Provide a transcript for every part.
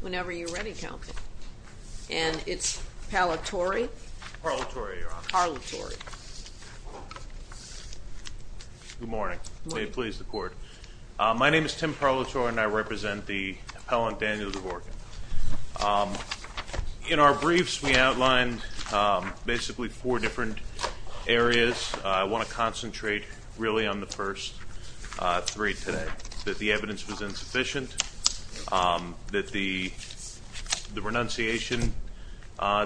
Whenever you're ready, counsel. And it's parlatory. Good morning. May it please the court. My name is Tim Parlatory and I represent the appellant Daniel Dvorkin. In our briefs, we outlined basically four different areas. I want to concentrate really on the first three today, that the evidence was insufficient, that the renunciation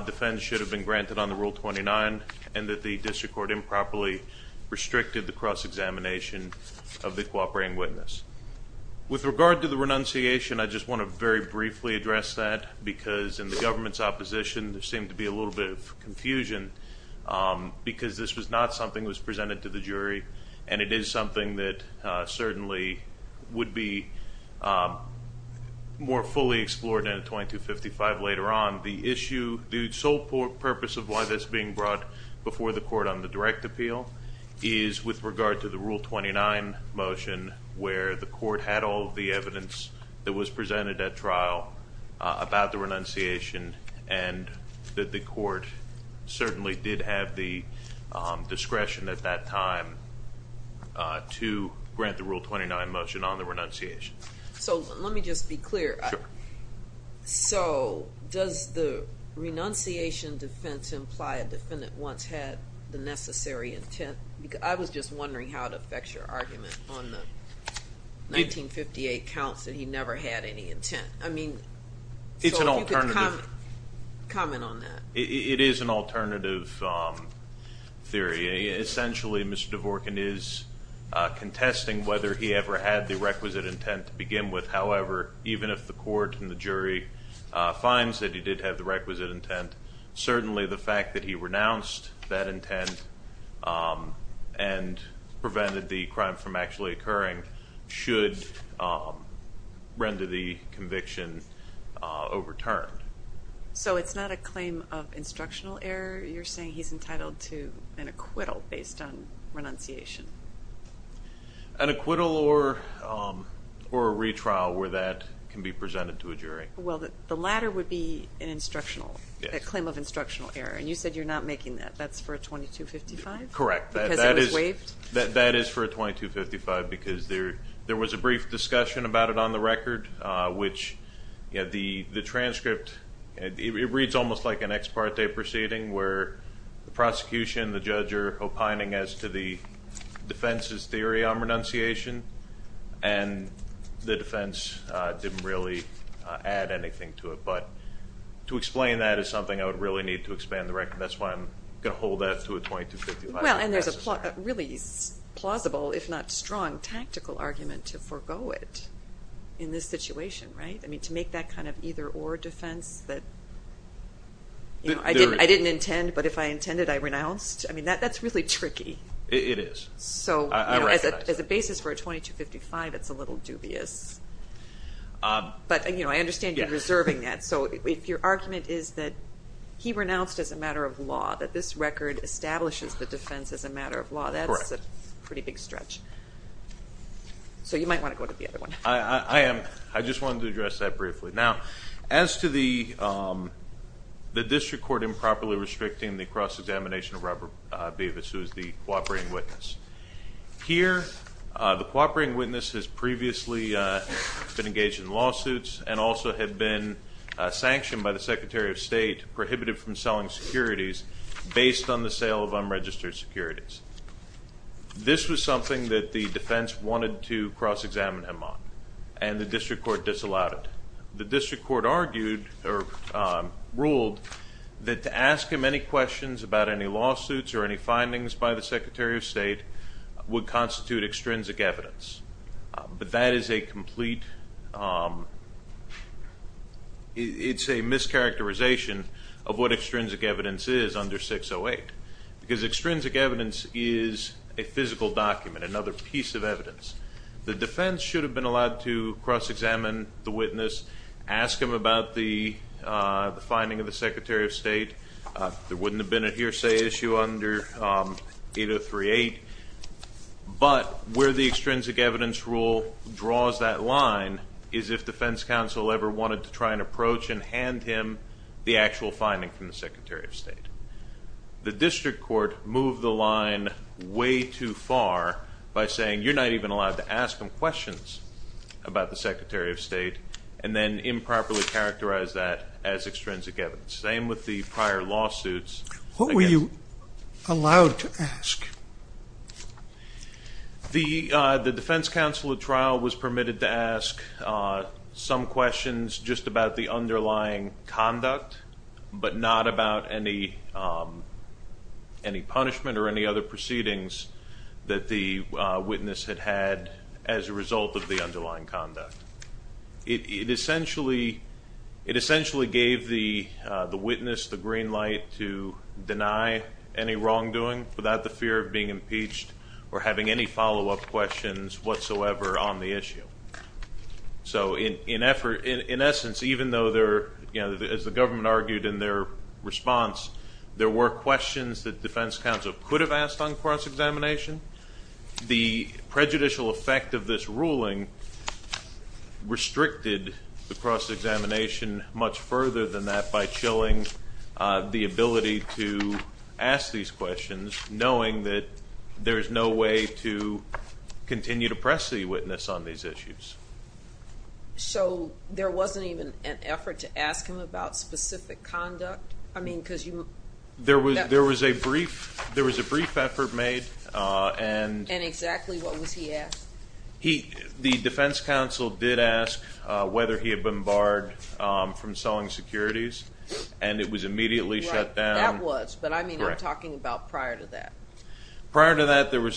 defense should have been granted on the Rule 29, and that the district court improperly restricted the cross-examination of the cooperating witness. With regard to the renunciation, I just want to very briefly address that because in the government's opposition there seemed to be a little bit of confusion because this was not something that was presented to the jury and it is something that certainly would be more fully explored in a 2255 later on. The sole purpose of why this is being brought before the court on the direct appeal is with regard to the Rule 29 motion where the court had all of the evidence that was presented at trial about the renunciation and that the court certainly did have the discretion at that time to grant the Rule 29 motion on the renunciation. So let me just be clear. Sure. So does the renunciation defense imply a defendant once had the necessary intent? I was just wondering how it affects your argument on the 1958 counts that he never had any intent. I mean, so if you could comment on that. It is an alternative theory. Essentially, Mr. Dvorkin is contesting whether he ever had the requisite intent to begin with. He finds that he did have the requisite intent. Certainly the fact that he renounced that intent and prevented the crime from actually occurring should render the conviction overturned. So it's not a claim of instructional error. You're saying he's entitled to an acquittal based on renunciation. An acquittal or a retrial where that can be presented to a jury. Well, the latter would be a claim of instructional error, and you said you're not making that. That's for a 2255? Correct. Because it was waived? That is for a 2255 because there was a brief discussion about it on the record, which the transcript reads almost like an ex parte proceeding where the prosecution and the judge are opining as to the defense's theory on renunciation, and the defense didn't really add anything to it. But to explain that is something I would really need to expand the record. That's why I'm going to hold that to a 2255. Well, and there's a really plausible, if not strong, tactical argument to forego it in this situation, right? I mean, to make that kind of either-or defense that I didn't intend, but if I intended, I renounced? I mean, that's really tricky. It is. So as a basis for a 2255, it's a little dubious. But I understand you're reserving that. So if your argument is that he renounced as a matter of law, that this record establishes the defense as a matter of law, that's a pretty big stretch. So you might want to go to the other one. I am. I wanted to address that briefly. Now, as to the district court improperly restricting the cross-examination of Robert Davis, who is the cooperating witness, here the cooperating witness has previously been engaged in lawsuits and also had been sanctioned by the Secretary of State, prohibited from selling securities, based on the sale of unregistered securities. This was something that the defense wanted to cross-examine him on, and the district court disallowed it. The district court argued or ruled that to ask him any questions about any lawsuits or any findings by the Secretary of State would constitute extrinsic evidence. But that is a complete, it's a mischaracterization of what extrinsic evidence is under 608, because extrinsic evidence is a physical document, another piece of evidence. The defense should have been allowed to cross-examine the witness, ask him about the finding of the Secretary of State. There wouldn't have been a hearsay issue under 803-8. But where the extrinsic evidence rule draws that line is if defense counsel ever wanted to try and approach and hand him the actual finding from the Secretary of State. The district court moved the line way too far by saying you're not even allowed to ask him questions about the Secretary of State and then improperly characterize that as extrinsic evidence. Same with the prior lawsuits. What were you allowed to ask? The defense counsel at trial was permitted to ask some questions just about the underlying conduct, but not about any punishment or any other proceedings that the witness had had as a result of the underlying conduct. It essentially gave the witness the green light to deny any wrongdoing without the fear of being impeached or having any follow-up questions whatsoever on the issue. So in essence, even though, as the government argued in their response, there were questions that defense counsel could have asked on cross-examination, the prejudicial effect of this ruling restricted the cross-examination much further than that by chilling the ability to ask these questions, knowing that there is no way to continue to press the witness on these issues. So there wasn't even an effort to ask him about specific conduct? There was a brief effort made. And exactly what was he asked? The defense counsel did ask whether he had been barred from selling securities, and it was immediately shut down. That was, but I mean I'm talking about prior to that. Prior to that, there were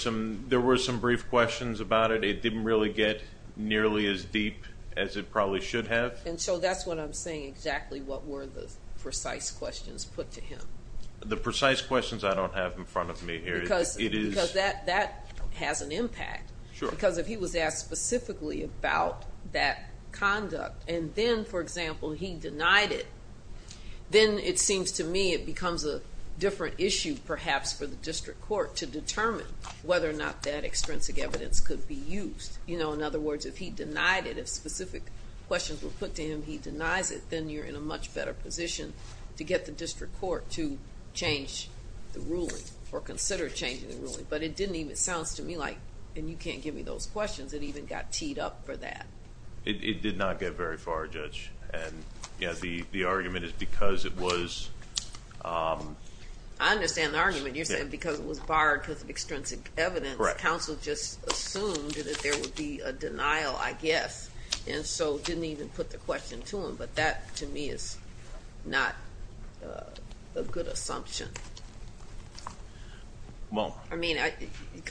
some brief questions about it. It didn't really get nearly as deep as it probably should have. And so that's what I'm saying, exactly what were the precise questions put to him? The precise questions I don't have in front of me here. Because that has an impact, because if he was asked specifically about that conduct and then, for example, he denied it, then it seems to me it becomes a different issue perhaps for the district court to determine whether or not that extrinsic evidence could be used. In other words, if he denied it, if specific questions were put to him, he denies it, then you're in a much better position to get the district court to change the ruling or consider changing the ruling. But it didn't even sound to me like, and you can't give me those questions, it even got teed up for that. It did not get very far, Judge. And the argument is because it was... I understand the argument. You're saying because it was barred because of extrinsic evidence, counsel just assumed that there would be a denial, I guess, and so didn't even put the question to him. But that to me is not a good assumption. Well. I mean,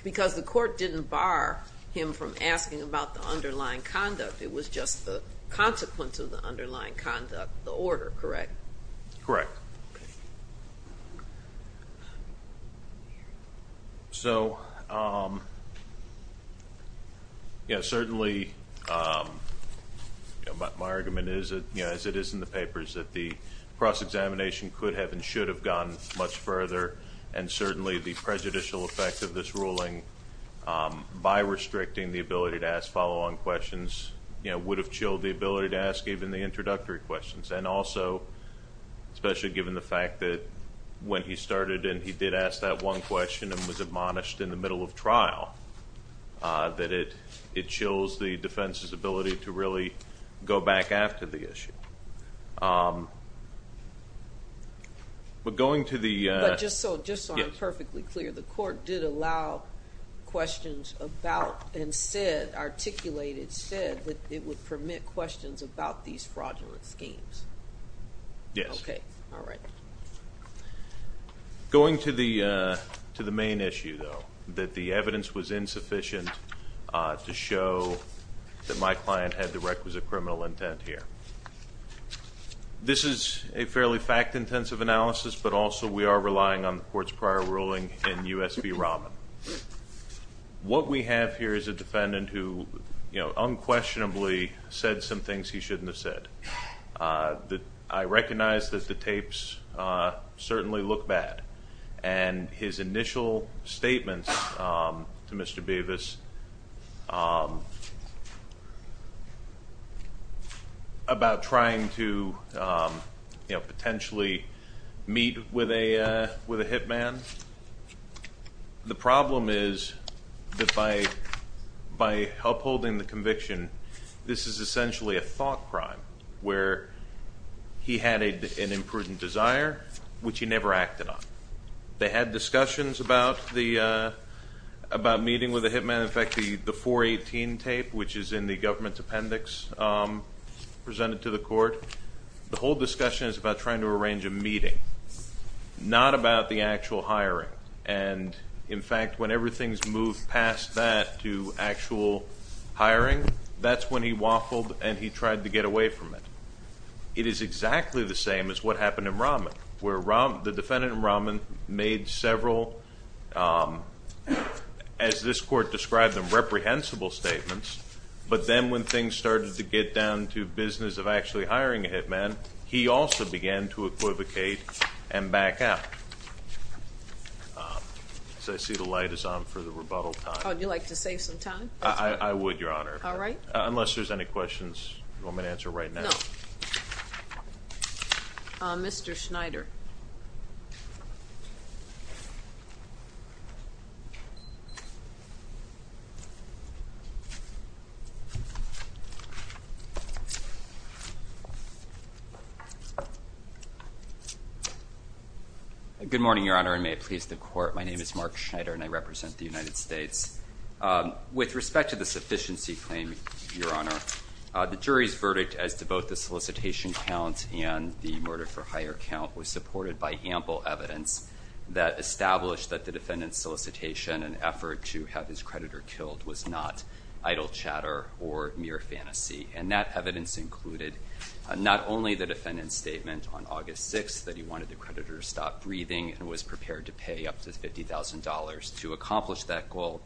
because the court didn't bar him from asking about the underlying conduct. It was just the consequence of the underlying conduct, the order, correct? Correct. So, yes, certainly my argument is, as it is in the papers, that the cross-examination could have and should have gone much further and certainly the prejudicial effect of this ruling, by restricting the ability to ask follow-on questions, would have chilled the ability to ask even the introductory questions. And also, especially given the fact that when he started and he did ask that one question and was admonished in the middle of trial, that it chills the defense's ability to really go back after the issue. But going to the... But just so I'm perfectly clear, the court did allow questions about and said, articulated, said, that it would permit questions about these fraudulent schemes. Yes. Okay. All right. Going to the main issue, though, that the evidence was insufficient to show that my client had the requisite criminal intent here. This is a fairly fact-intensive analysis, but also we are relying on the Court's prior ruling in U.S. v. Rahman. What we have here is a defendant who unquestionably said some things he shouldn't have said. I recognize that the tapes certainly look bad, and his initial statements to Mr. Bevis about trying to, you know, potentially meet with a hit man. The problem is that by upholding the conviction, this is essentially a thought crime where he had an imprudent desire, which he never acted on. They had discussions about meeting with a hit man. In fact, the 418 tape, which is in the government's appendix presented to the Court, the whole discussion is about trying to arrange a meeting, not about the actual hiring. And, in fact, when everything's moved past that to actual hiring, that's when he waffled and he tried to get away from it. It is exactly the same as what happened in Rahman, where the defendant in Rahman made several, as this Court described them, reprehensible statements, but then when things started to get down to business of actually hiring a hit man, he also began to equivocate and back out. I see the light is on for the rebuttal time. Would you like to save some time? I would, Your Honor. All right. Unless there's any questions you want me to answer right now. No. Mr. Schneider. Good morning, Your Honor, and may it please the Court. My name is Mark Schneider and I represent the United States. With respect to the sufficiency claim, Your Honor, the jury's verdict as to both the solicitation count and the murder-for-hire count was supported by ample evidence that established that the defendant's solicitation and effort to have his creditor killed was not idle chatter or mere fantasy. And that evidence included not only the defendant's statement on August 6th that he wanted the creditor to stop breathing and was prepared to pay up to $50,000 to accomplish that goal,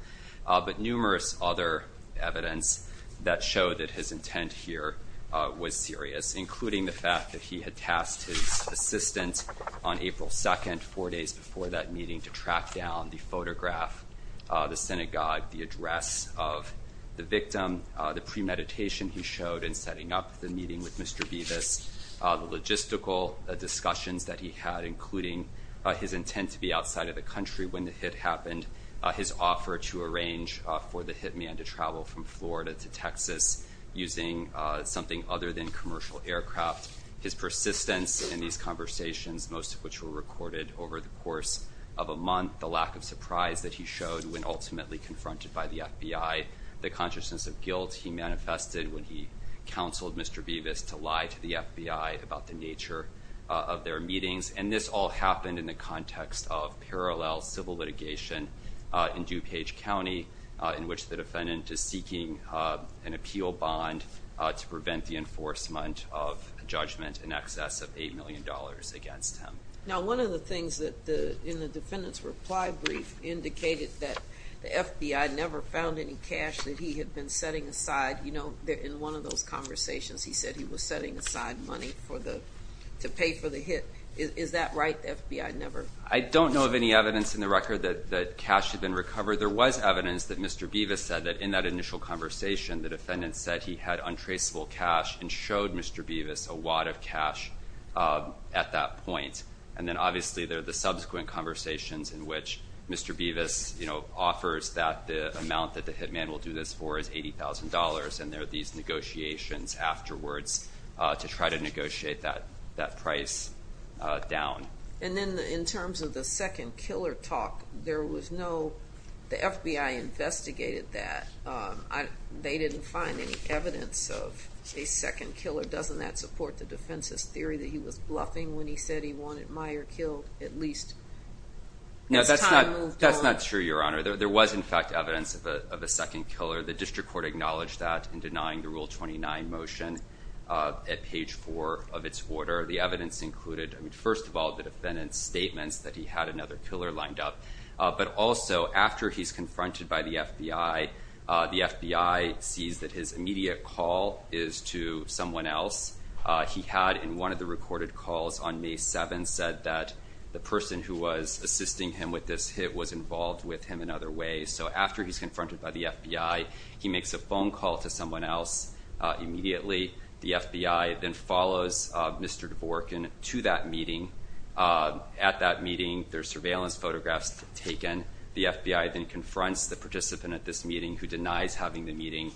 but numerous other evidence that showed that his intent here was serious, including the fact that he had tasked his assistant on April 2nd, four days before that meeting, to track down the photograph, the synagogue, the address of the victim, the premeditation he showed in setting up the meeting with Mr. Bevis, the logistical discussions that he had, including his intent to be outside of the country when the hit happened, his offer to arrange for the hitman to travel from Florida to Texas using something other than commercial aircraft, his persistence in these conversations, most of which were recorded over the course of a month, the lack of surprise that he showed when ultimately confronted by the FBI, the consciousness of guilt he manifested when he counseled Mr. Bevis to lie to the FBI about the nature of their meetings. And this all happened in the context of parallel civil litigation in DuPage County in which the defendant is seeking an appeal bond to prevent the enforcement of a judgment in excess of $8 million against him. Now, one of the things in the defendant's reply brief indicated that the FBI never found any cash that he had been setting aside in one of those conversations. He said he was setting aside money to pay for the hit. Is that right, the FBI never? I don't know of any evidence in the record that cash had been recovered. There was evidence that Mr. Bevis said that in that initial conversation, the defendant said he had untraceable cash and showed Mr. Bevis a wad of cash at that point. And then obviously there are the subsequent conversations in which Mr. Bevis offers that the amount that the hitman will do this for is $80,000. And there are these negotiations afterwards to try to negotiate that price down. And then in terms of the second killer talk, there was no – the FBI investigated that. They didn't find any evidence of a second killer. Doesn't that support the defense's theory that he was bluffing when he said he wanted Meyer killed at least as time moved on? No, that's not true, Your Honor. There was, in fact, evidence of a second killer. The district court acknowledged that in denying the Rule 29 motion at page 4 of its order. The evidence included, first of all, the defendant's statements that he had another killer lined up. But also, after he's confronted by the FBI, the FBI sees that his immediate call is to someone else. He had, in one of the recorded calls on May 7, said that the person who was assisting him with this hit was involved with him in other ways. So after he's confronted by the FBI, he makes a phone call to someone else immediately. The FBI then follows Mr. Dvorkin to that meeting. At that meeting, there are surveillance photographs taken. The FBI then confronts the participant at this meeting who denies having the meeting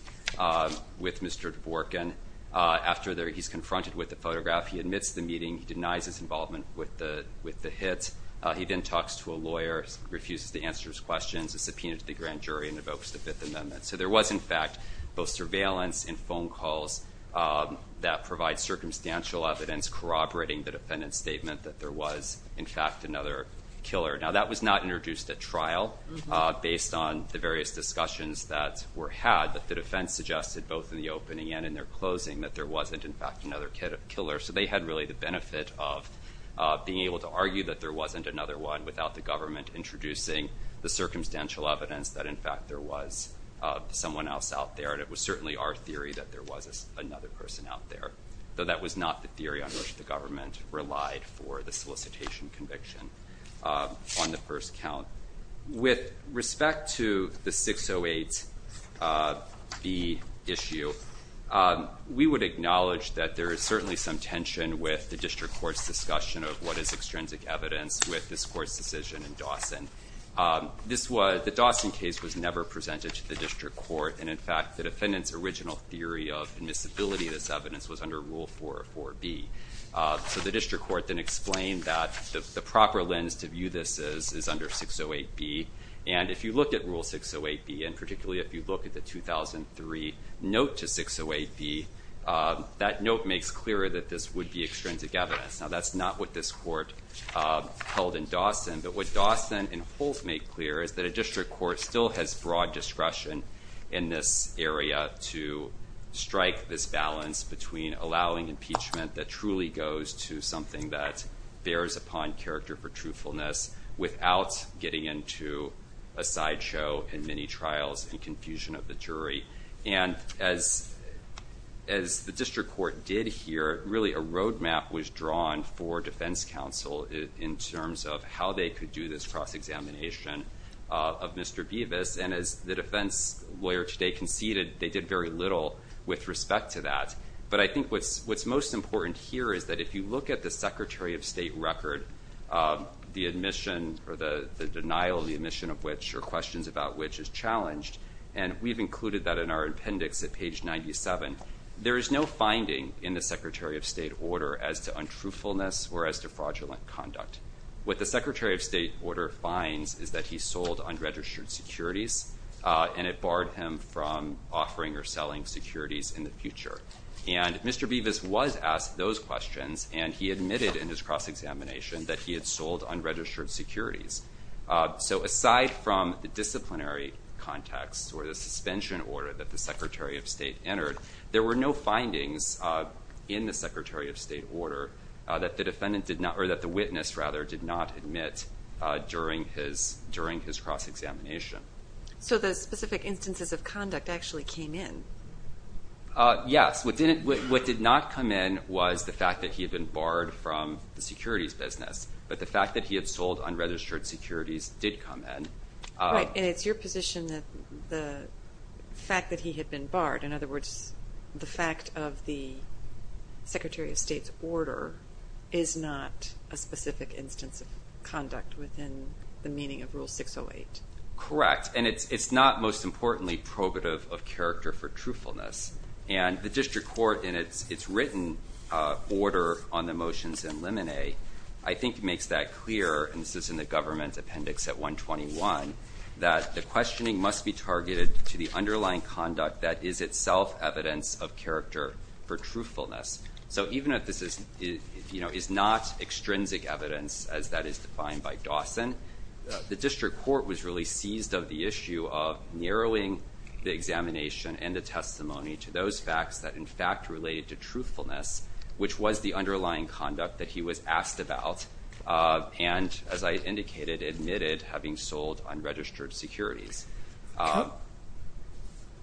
with Mr. Dvorkin. After he's confronted with the photograph, he admits the meeting. He denies his involvement with the hit. He then talks to a lawyer, refuses to answer his questions, is subpoenaed to the grand jury, and evokes the Fifth Amendment. So there was, in fact, both surveillance and phone calls that provide circumstantial evidence corroborating the defendant's statement that there was, in fact, another killer. Now, that was not introduced at trial based on the various discussions that were had, but the defense suggested both in the opening and in their closing that there wasn't, in fact, another killer. So they had really the benefit of being able to argue that there wasn't another one without the government introducing the circumstantial evidence that, in fact, there was someone else out there. And it was certainly our theory that there was another person out there, though that was not the theory on which the government relied for the solicitation conviction on the first count. With respect to the 608B issue, we would acknowledge that there is certainly some tension with the district court's discussion of what is extrinsic evidence with this court's decision in Dawson. The Dawson case was never presented to the district court, and, in fact, the defendant's original theory of admissibility of this evidence was under Rule 404B. So the district court then explained that the proper lens to view this is under 608B. And if you look at Rule 608B, and particularly if you look at the 2003 note to 608B, that note makes clear that this would be extrinsic evidence. Now, that's not what this court held in Dawson. But what Dawson and Holt make clear is that a district court still has broad discretion in this area to strike this balance between allowing impeachment that truly goes to something that bears upon character for truthfulness without getting into a sideshow and many trials and confusion of the jury. And as the district court did here, really a roadmap was drawn for defense counsel in terms of how they could do this cross-examination of Mr. Beavis. And as the defense lawyer today conceded, they did very little with respect to that. But I think what's most important here is that if you look at the Secretary of State record, the admission or the denial of the admission of which or questions about which is challenged, and we've included that in our appendix at page 97, there is no finding in the Secretary of State order as to untruthfulness or as to fraudulent conduct. What the Secretary of State order finds is that he sold unregistered securities and it barred him from offering or selling securities in the future. And Mr. Beavis was asked those questions, and he admitted in his cross-examination that he had sold unregistered securities. So aside from the disciplinary context or the suspension order that the Secretary of State entered, there were no findings in the Secretary of State order that the witness did not admit during his cross-examination. So the specific instances of conduct actually came in? Yes. What did not come in was the fact that he had been barred from the securities business. But the fact that he had sold unregistered securities did come in. Right. In other words, the fact of the Secretary of State's order is not a specific instance of conduct within the meaning of Rule 608. Correct. And it's not, most importantly, probative of character for truthfulness. And the district court in its written order on the motions in limine, I think makes that clear, and this is in the government appendix at 121, that the questioning must be targeted to the underlying conduct that is itself evidence of character for truthfulness. So even if this is not extrinsic evidence, as that is defined by Dawson, the district court was really seized of the issue of narrowing the examination and the testimony to those facts that, in fact, related to truthfulness, which was the underlying conduct that he was asked about and, as I indicated, admitted having sold unregistered securities.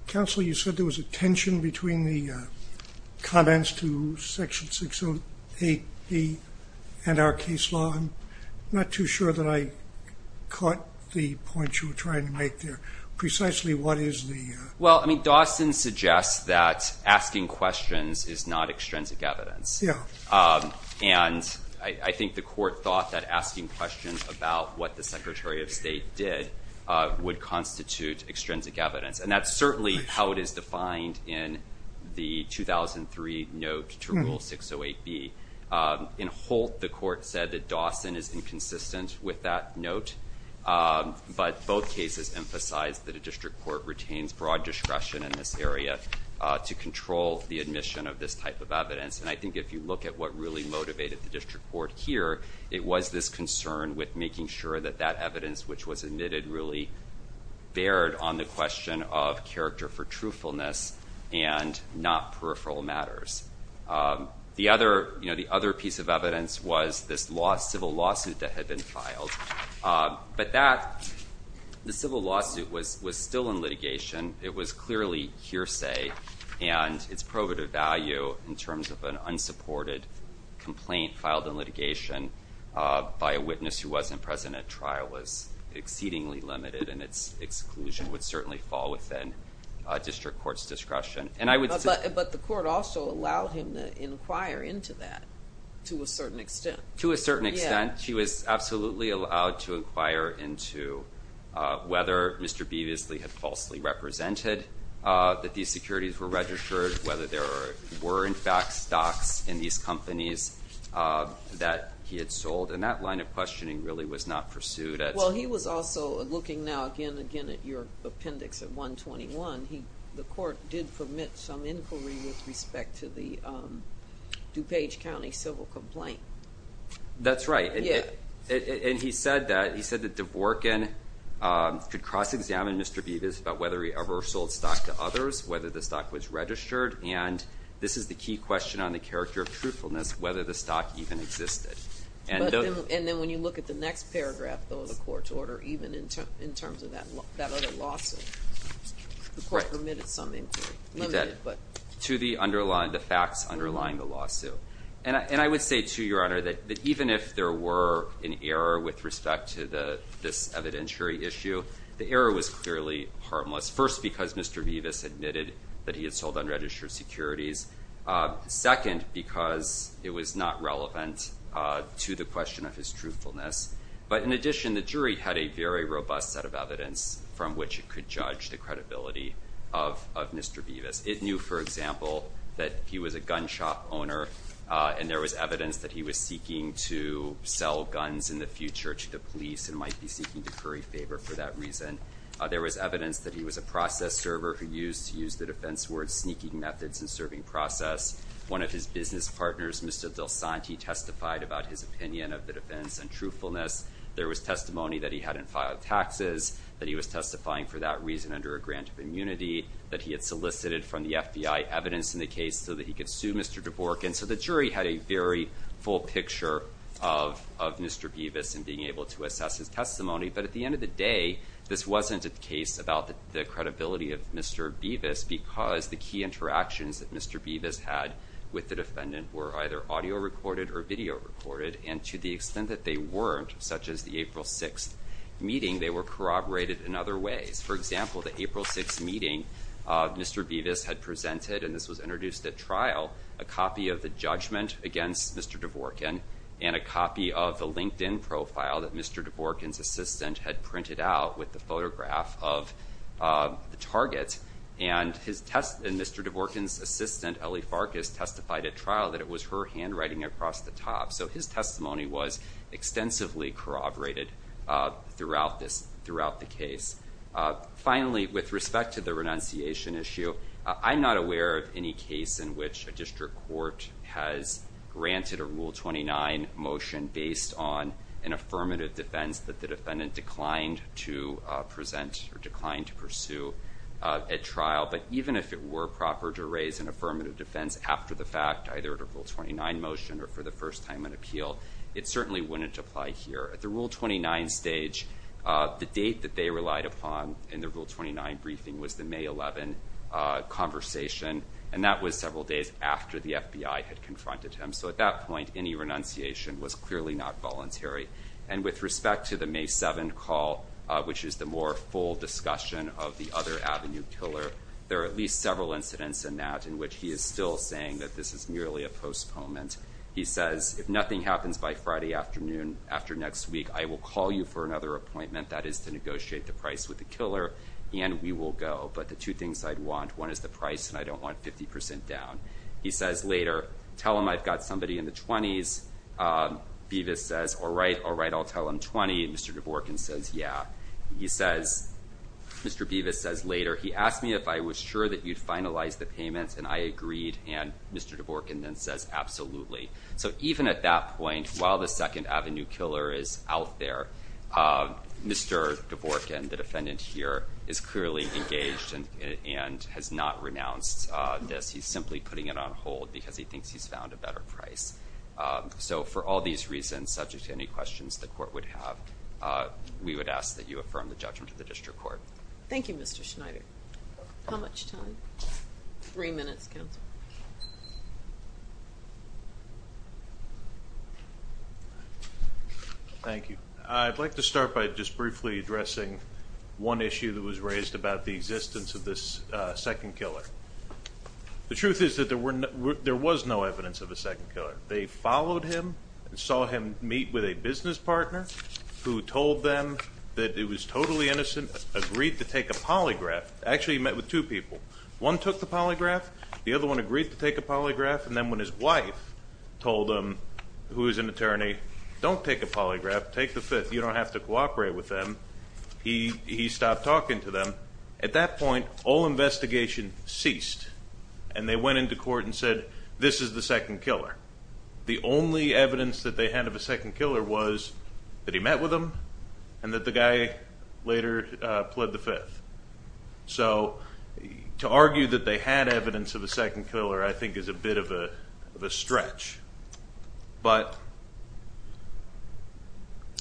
Counsel, you said there was a tension between the comments to Section 608B and our case law. I'm not too sure that I caught the point you were trying to make there. Precisely what is the... Well, I mean, Dawson suggests that asking questions is not extrinsic evidence. Yeah. And I think the court thought that asking questions about what the Secretary of State did would constitute extrinsic evidence, and that's certainly how it is defined in the 2003 note to Rule 608B. In Holt, the court said that Dawson is inconsistent with that note, but both cases emphasize that a district court retains broad discretion in this area to control the admission of this type of evidence. And I think if you look at what really motivated the district court here, it was this concern with making sure that that evidence, which was admitted, really bared on the question of character for truthfulness and not peripheral matters. The other piece of evidence was this civil lawsuit that had been filed. But the civil lawsuit was still in litigation. It was clearly hearsay, and its probative value in terms of an unsupported complaint filed in litigation by a witness who wasn't present at trial was exceedingly limited, and its exclusion would certainly fall within district court's discretion. But the court also allowed him to inquire into that to a certain extent. To a certain extent. He was absolutely allowed to inquire into whether Mr. Beavisley had falsely represented that these securities were registered, whether there were, in fact, stocks in these companies that he had sold. And that line of questioning really was not pursued. Well, he was also looking now again and again at your appendix at 121. The court did permit some inquiry with respect to the DuPage County civil complaint. That's right. And he said that Dvorkin could cross-examine Mr. Beavis about whether he ever sold stock to others, whether the stock was registered, and this is the key question on the character of truthfulness, whether the stock even existed. And then when you look at the next paragraph of the court's order, even in terms of that other lawsuit, the court permitted some inquiry. To the facts underlying the lawsuit. And I would say, too, Your Honor, that even if there were an error with respect to this evidentiary issue, the error was clearly harmless. First, because Mr. Beavis admitted that he had sold unregistered securities. Second, because it was not relevant to the question of his truthfulness. But in addition, the jury had a very robust set of evidence from which it could judge the credibility of Mr. Beavis. It knew, for example, that he was a gun shop owner. And there was evidence that he was seeking to sell guns in the future to the police and might be seeking to curry favor for that reason. There was evidence that he was a process server who used to use the defense word sneaking methods in serving process. One of his business partners, Mr. DelSanti, testified about his opinion of the defense and truthfulness. There was testimony that he hadn't filed taxes, that he was testifying for that reason under a grant of immunity, that he had solicited from the FBI evidence in the case so that he could sue Mr. Dvorkin. So the jury had a very full picture of Mr. Beavis and being able to assess his testimony. But at the end of the day, this wasn't a case about the credibility of Mr. Beavis, because the key interactions that Mr. Beavis had with the defendant were either audio recorded or video recorded. And to the extent that they weren't, such as the April 6th meeting, they were corroborated in other ways. For example, the April 6th meeting, Mr. Beavis had presented, and this was introduced at trial, a copy of the judgment against Mr. Dvorkin and a copy of the LinkedIn profile that Mr. Dvorkin's assistant had printed out with the photograph of the target. And Mr. Dvorkin's assistant, Ellie Farkas, testified at trial that it was her handwriting across the top. So his testimony was extensively corroborated throughout the case. Finally, with respect to the renunciation issue, I'm not aware of any case in which a district court has granted a Rule 29 motion based on an affirmative defense that the defendant declined to present or declined to pursue at trial. But even if it were proper to raise an affirmative defense after the fact, either at a Rule 29 motion or for the first time in appeal, it certainly wouldn't apply here. At the Rule 29 stage, the date that they relied upon in the Rule 29 briefing was the May 11 conversation, and that was several days after the FBI had confronted him. So at that point, any renunciation was clearly not voluntary. And with respect to the May 7 call, which is the more full discussion of the other Avenue killer, there are at least several incidents in that in which he is still saying that this is merely a postponement. He says, if nothing happens by Friday afternoon after next week, I will call you for another appointment. That is to negotiate the price with the killer and we will go. But the two things I'd want, one is the price and I don't want 50 percent down. He says later, tell him I've got somebody in the 20s. Bevis says, all right, all right, I'll tell him 20. And Mr. Dvorkin says, yeah. He says, Mr. Bevis says later, he asked me if I was sure that you'd finalize the payments and I agreed. And Mr. Dvorkin then says, absolutely. So even at that point, while the second Avenue killer is out there, Mr. Dvorkin, the defendant here, is clearly engaged and has not renounced this. He's simply putting it on hold because he thinks he's found a better price. So for all these reasons, subject to any questions the court would have, we would ask that you affirm the judgment of the district court. Thank you, Mr. Schneider. How much time? Three minutes, counsel. Thank you. I'd like to start by just briefly addressing one issue that was raised about the existence of this second killer. The truth is that there was no evidence of a second killer. They followed him and saw him meet with a business partner who told them that it was totally innocent, agreed to take a polygraph. Actually, he met with two people. One took the polygraph. The other one agreed to take a polygraph. And then when his wife told him, who is an attorney, don't take a polygraph, take the fifth. You don't have to cooperate with them. He stopped talking to them. At that point, all investigation ceased, and they went into court and said, this is the second killer. The only evidence that they had of a second killer was that he met with them and that the guy later pled the fifth. So to argue that they had evidence of a second killer I think is a bit of a stretch. But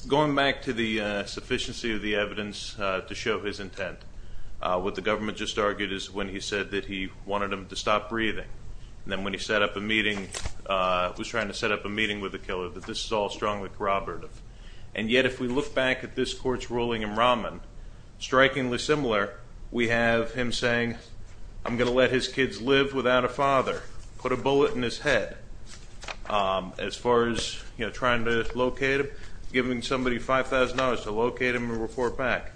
going back to the sufficiency of the evidence to show his intent, what the government just argued is when he said that he wanted him to stop breathing. And then when he set up a meeting, was trying to set up a meeting with the killer, that this is all strongly corroborative. And yet if we look back at this court's ruling in Raman, strikingly similar, we have him saying, I'm going to let his kids live without a father. Put a bullet in his head as far as trying to locate him, giving somebody $5,000 to locate him and report back.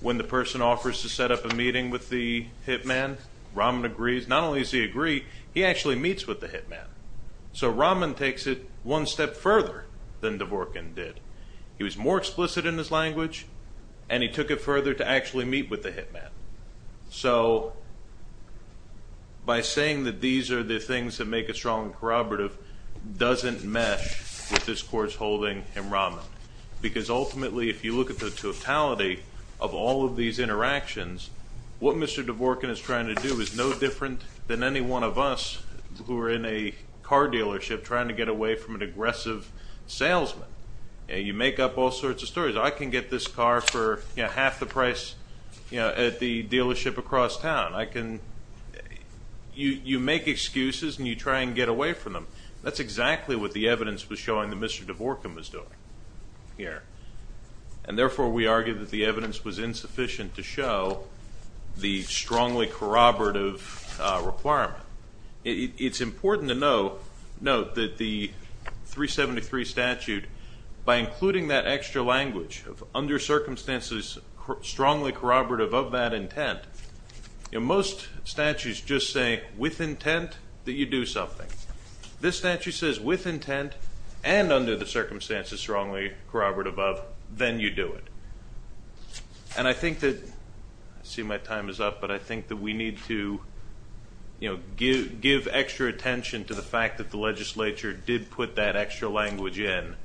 When the person offers to set up a meeting with the hitman, Raman agrees. Not only does he agree, he actually meets with the hitman. So Raman takes it one step further than Dvorkin did. He was more explicit in his language, and he took it further to actually meet with the hitman. So by saying that these are the things that make it strong and corroborative doesn't mesh with this court's holding in Raman. Because ultimately if you look at the totality of all of these interactions, what Mr. Dvorkin is trying to do is no different than any one of us who are in a car dealership trying to get away from an aggressive salesman. He says, I can get this car for half the price at the dealership across town. You make excuses and you try and get away from them. That's exactly what the evidence was showing that Mr. Dvorkin was doing here. And therefore, we argue that the evidence was insufficient to show the strongly corroborative requirement. It's important to note that the 373 statute, by including that extra language of under circumstances strongly corroborative of that intent, most statutes just say with intent that you do something. This statute says with intent and under the circumstances strongly corroborative of, then you do it. And I think that, I see my time is up, but I think that we need to give extra attention to the fact that the legislature did put that extra language in.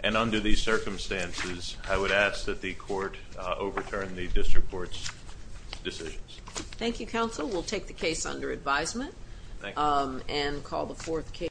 And under these circumstances, I would ask that the court overturn the district court's decisions. Thank you, counsel. We'll take the case under advisement. Thank you. And call the fourth case.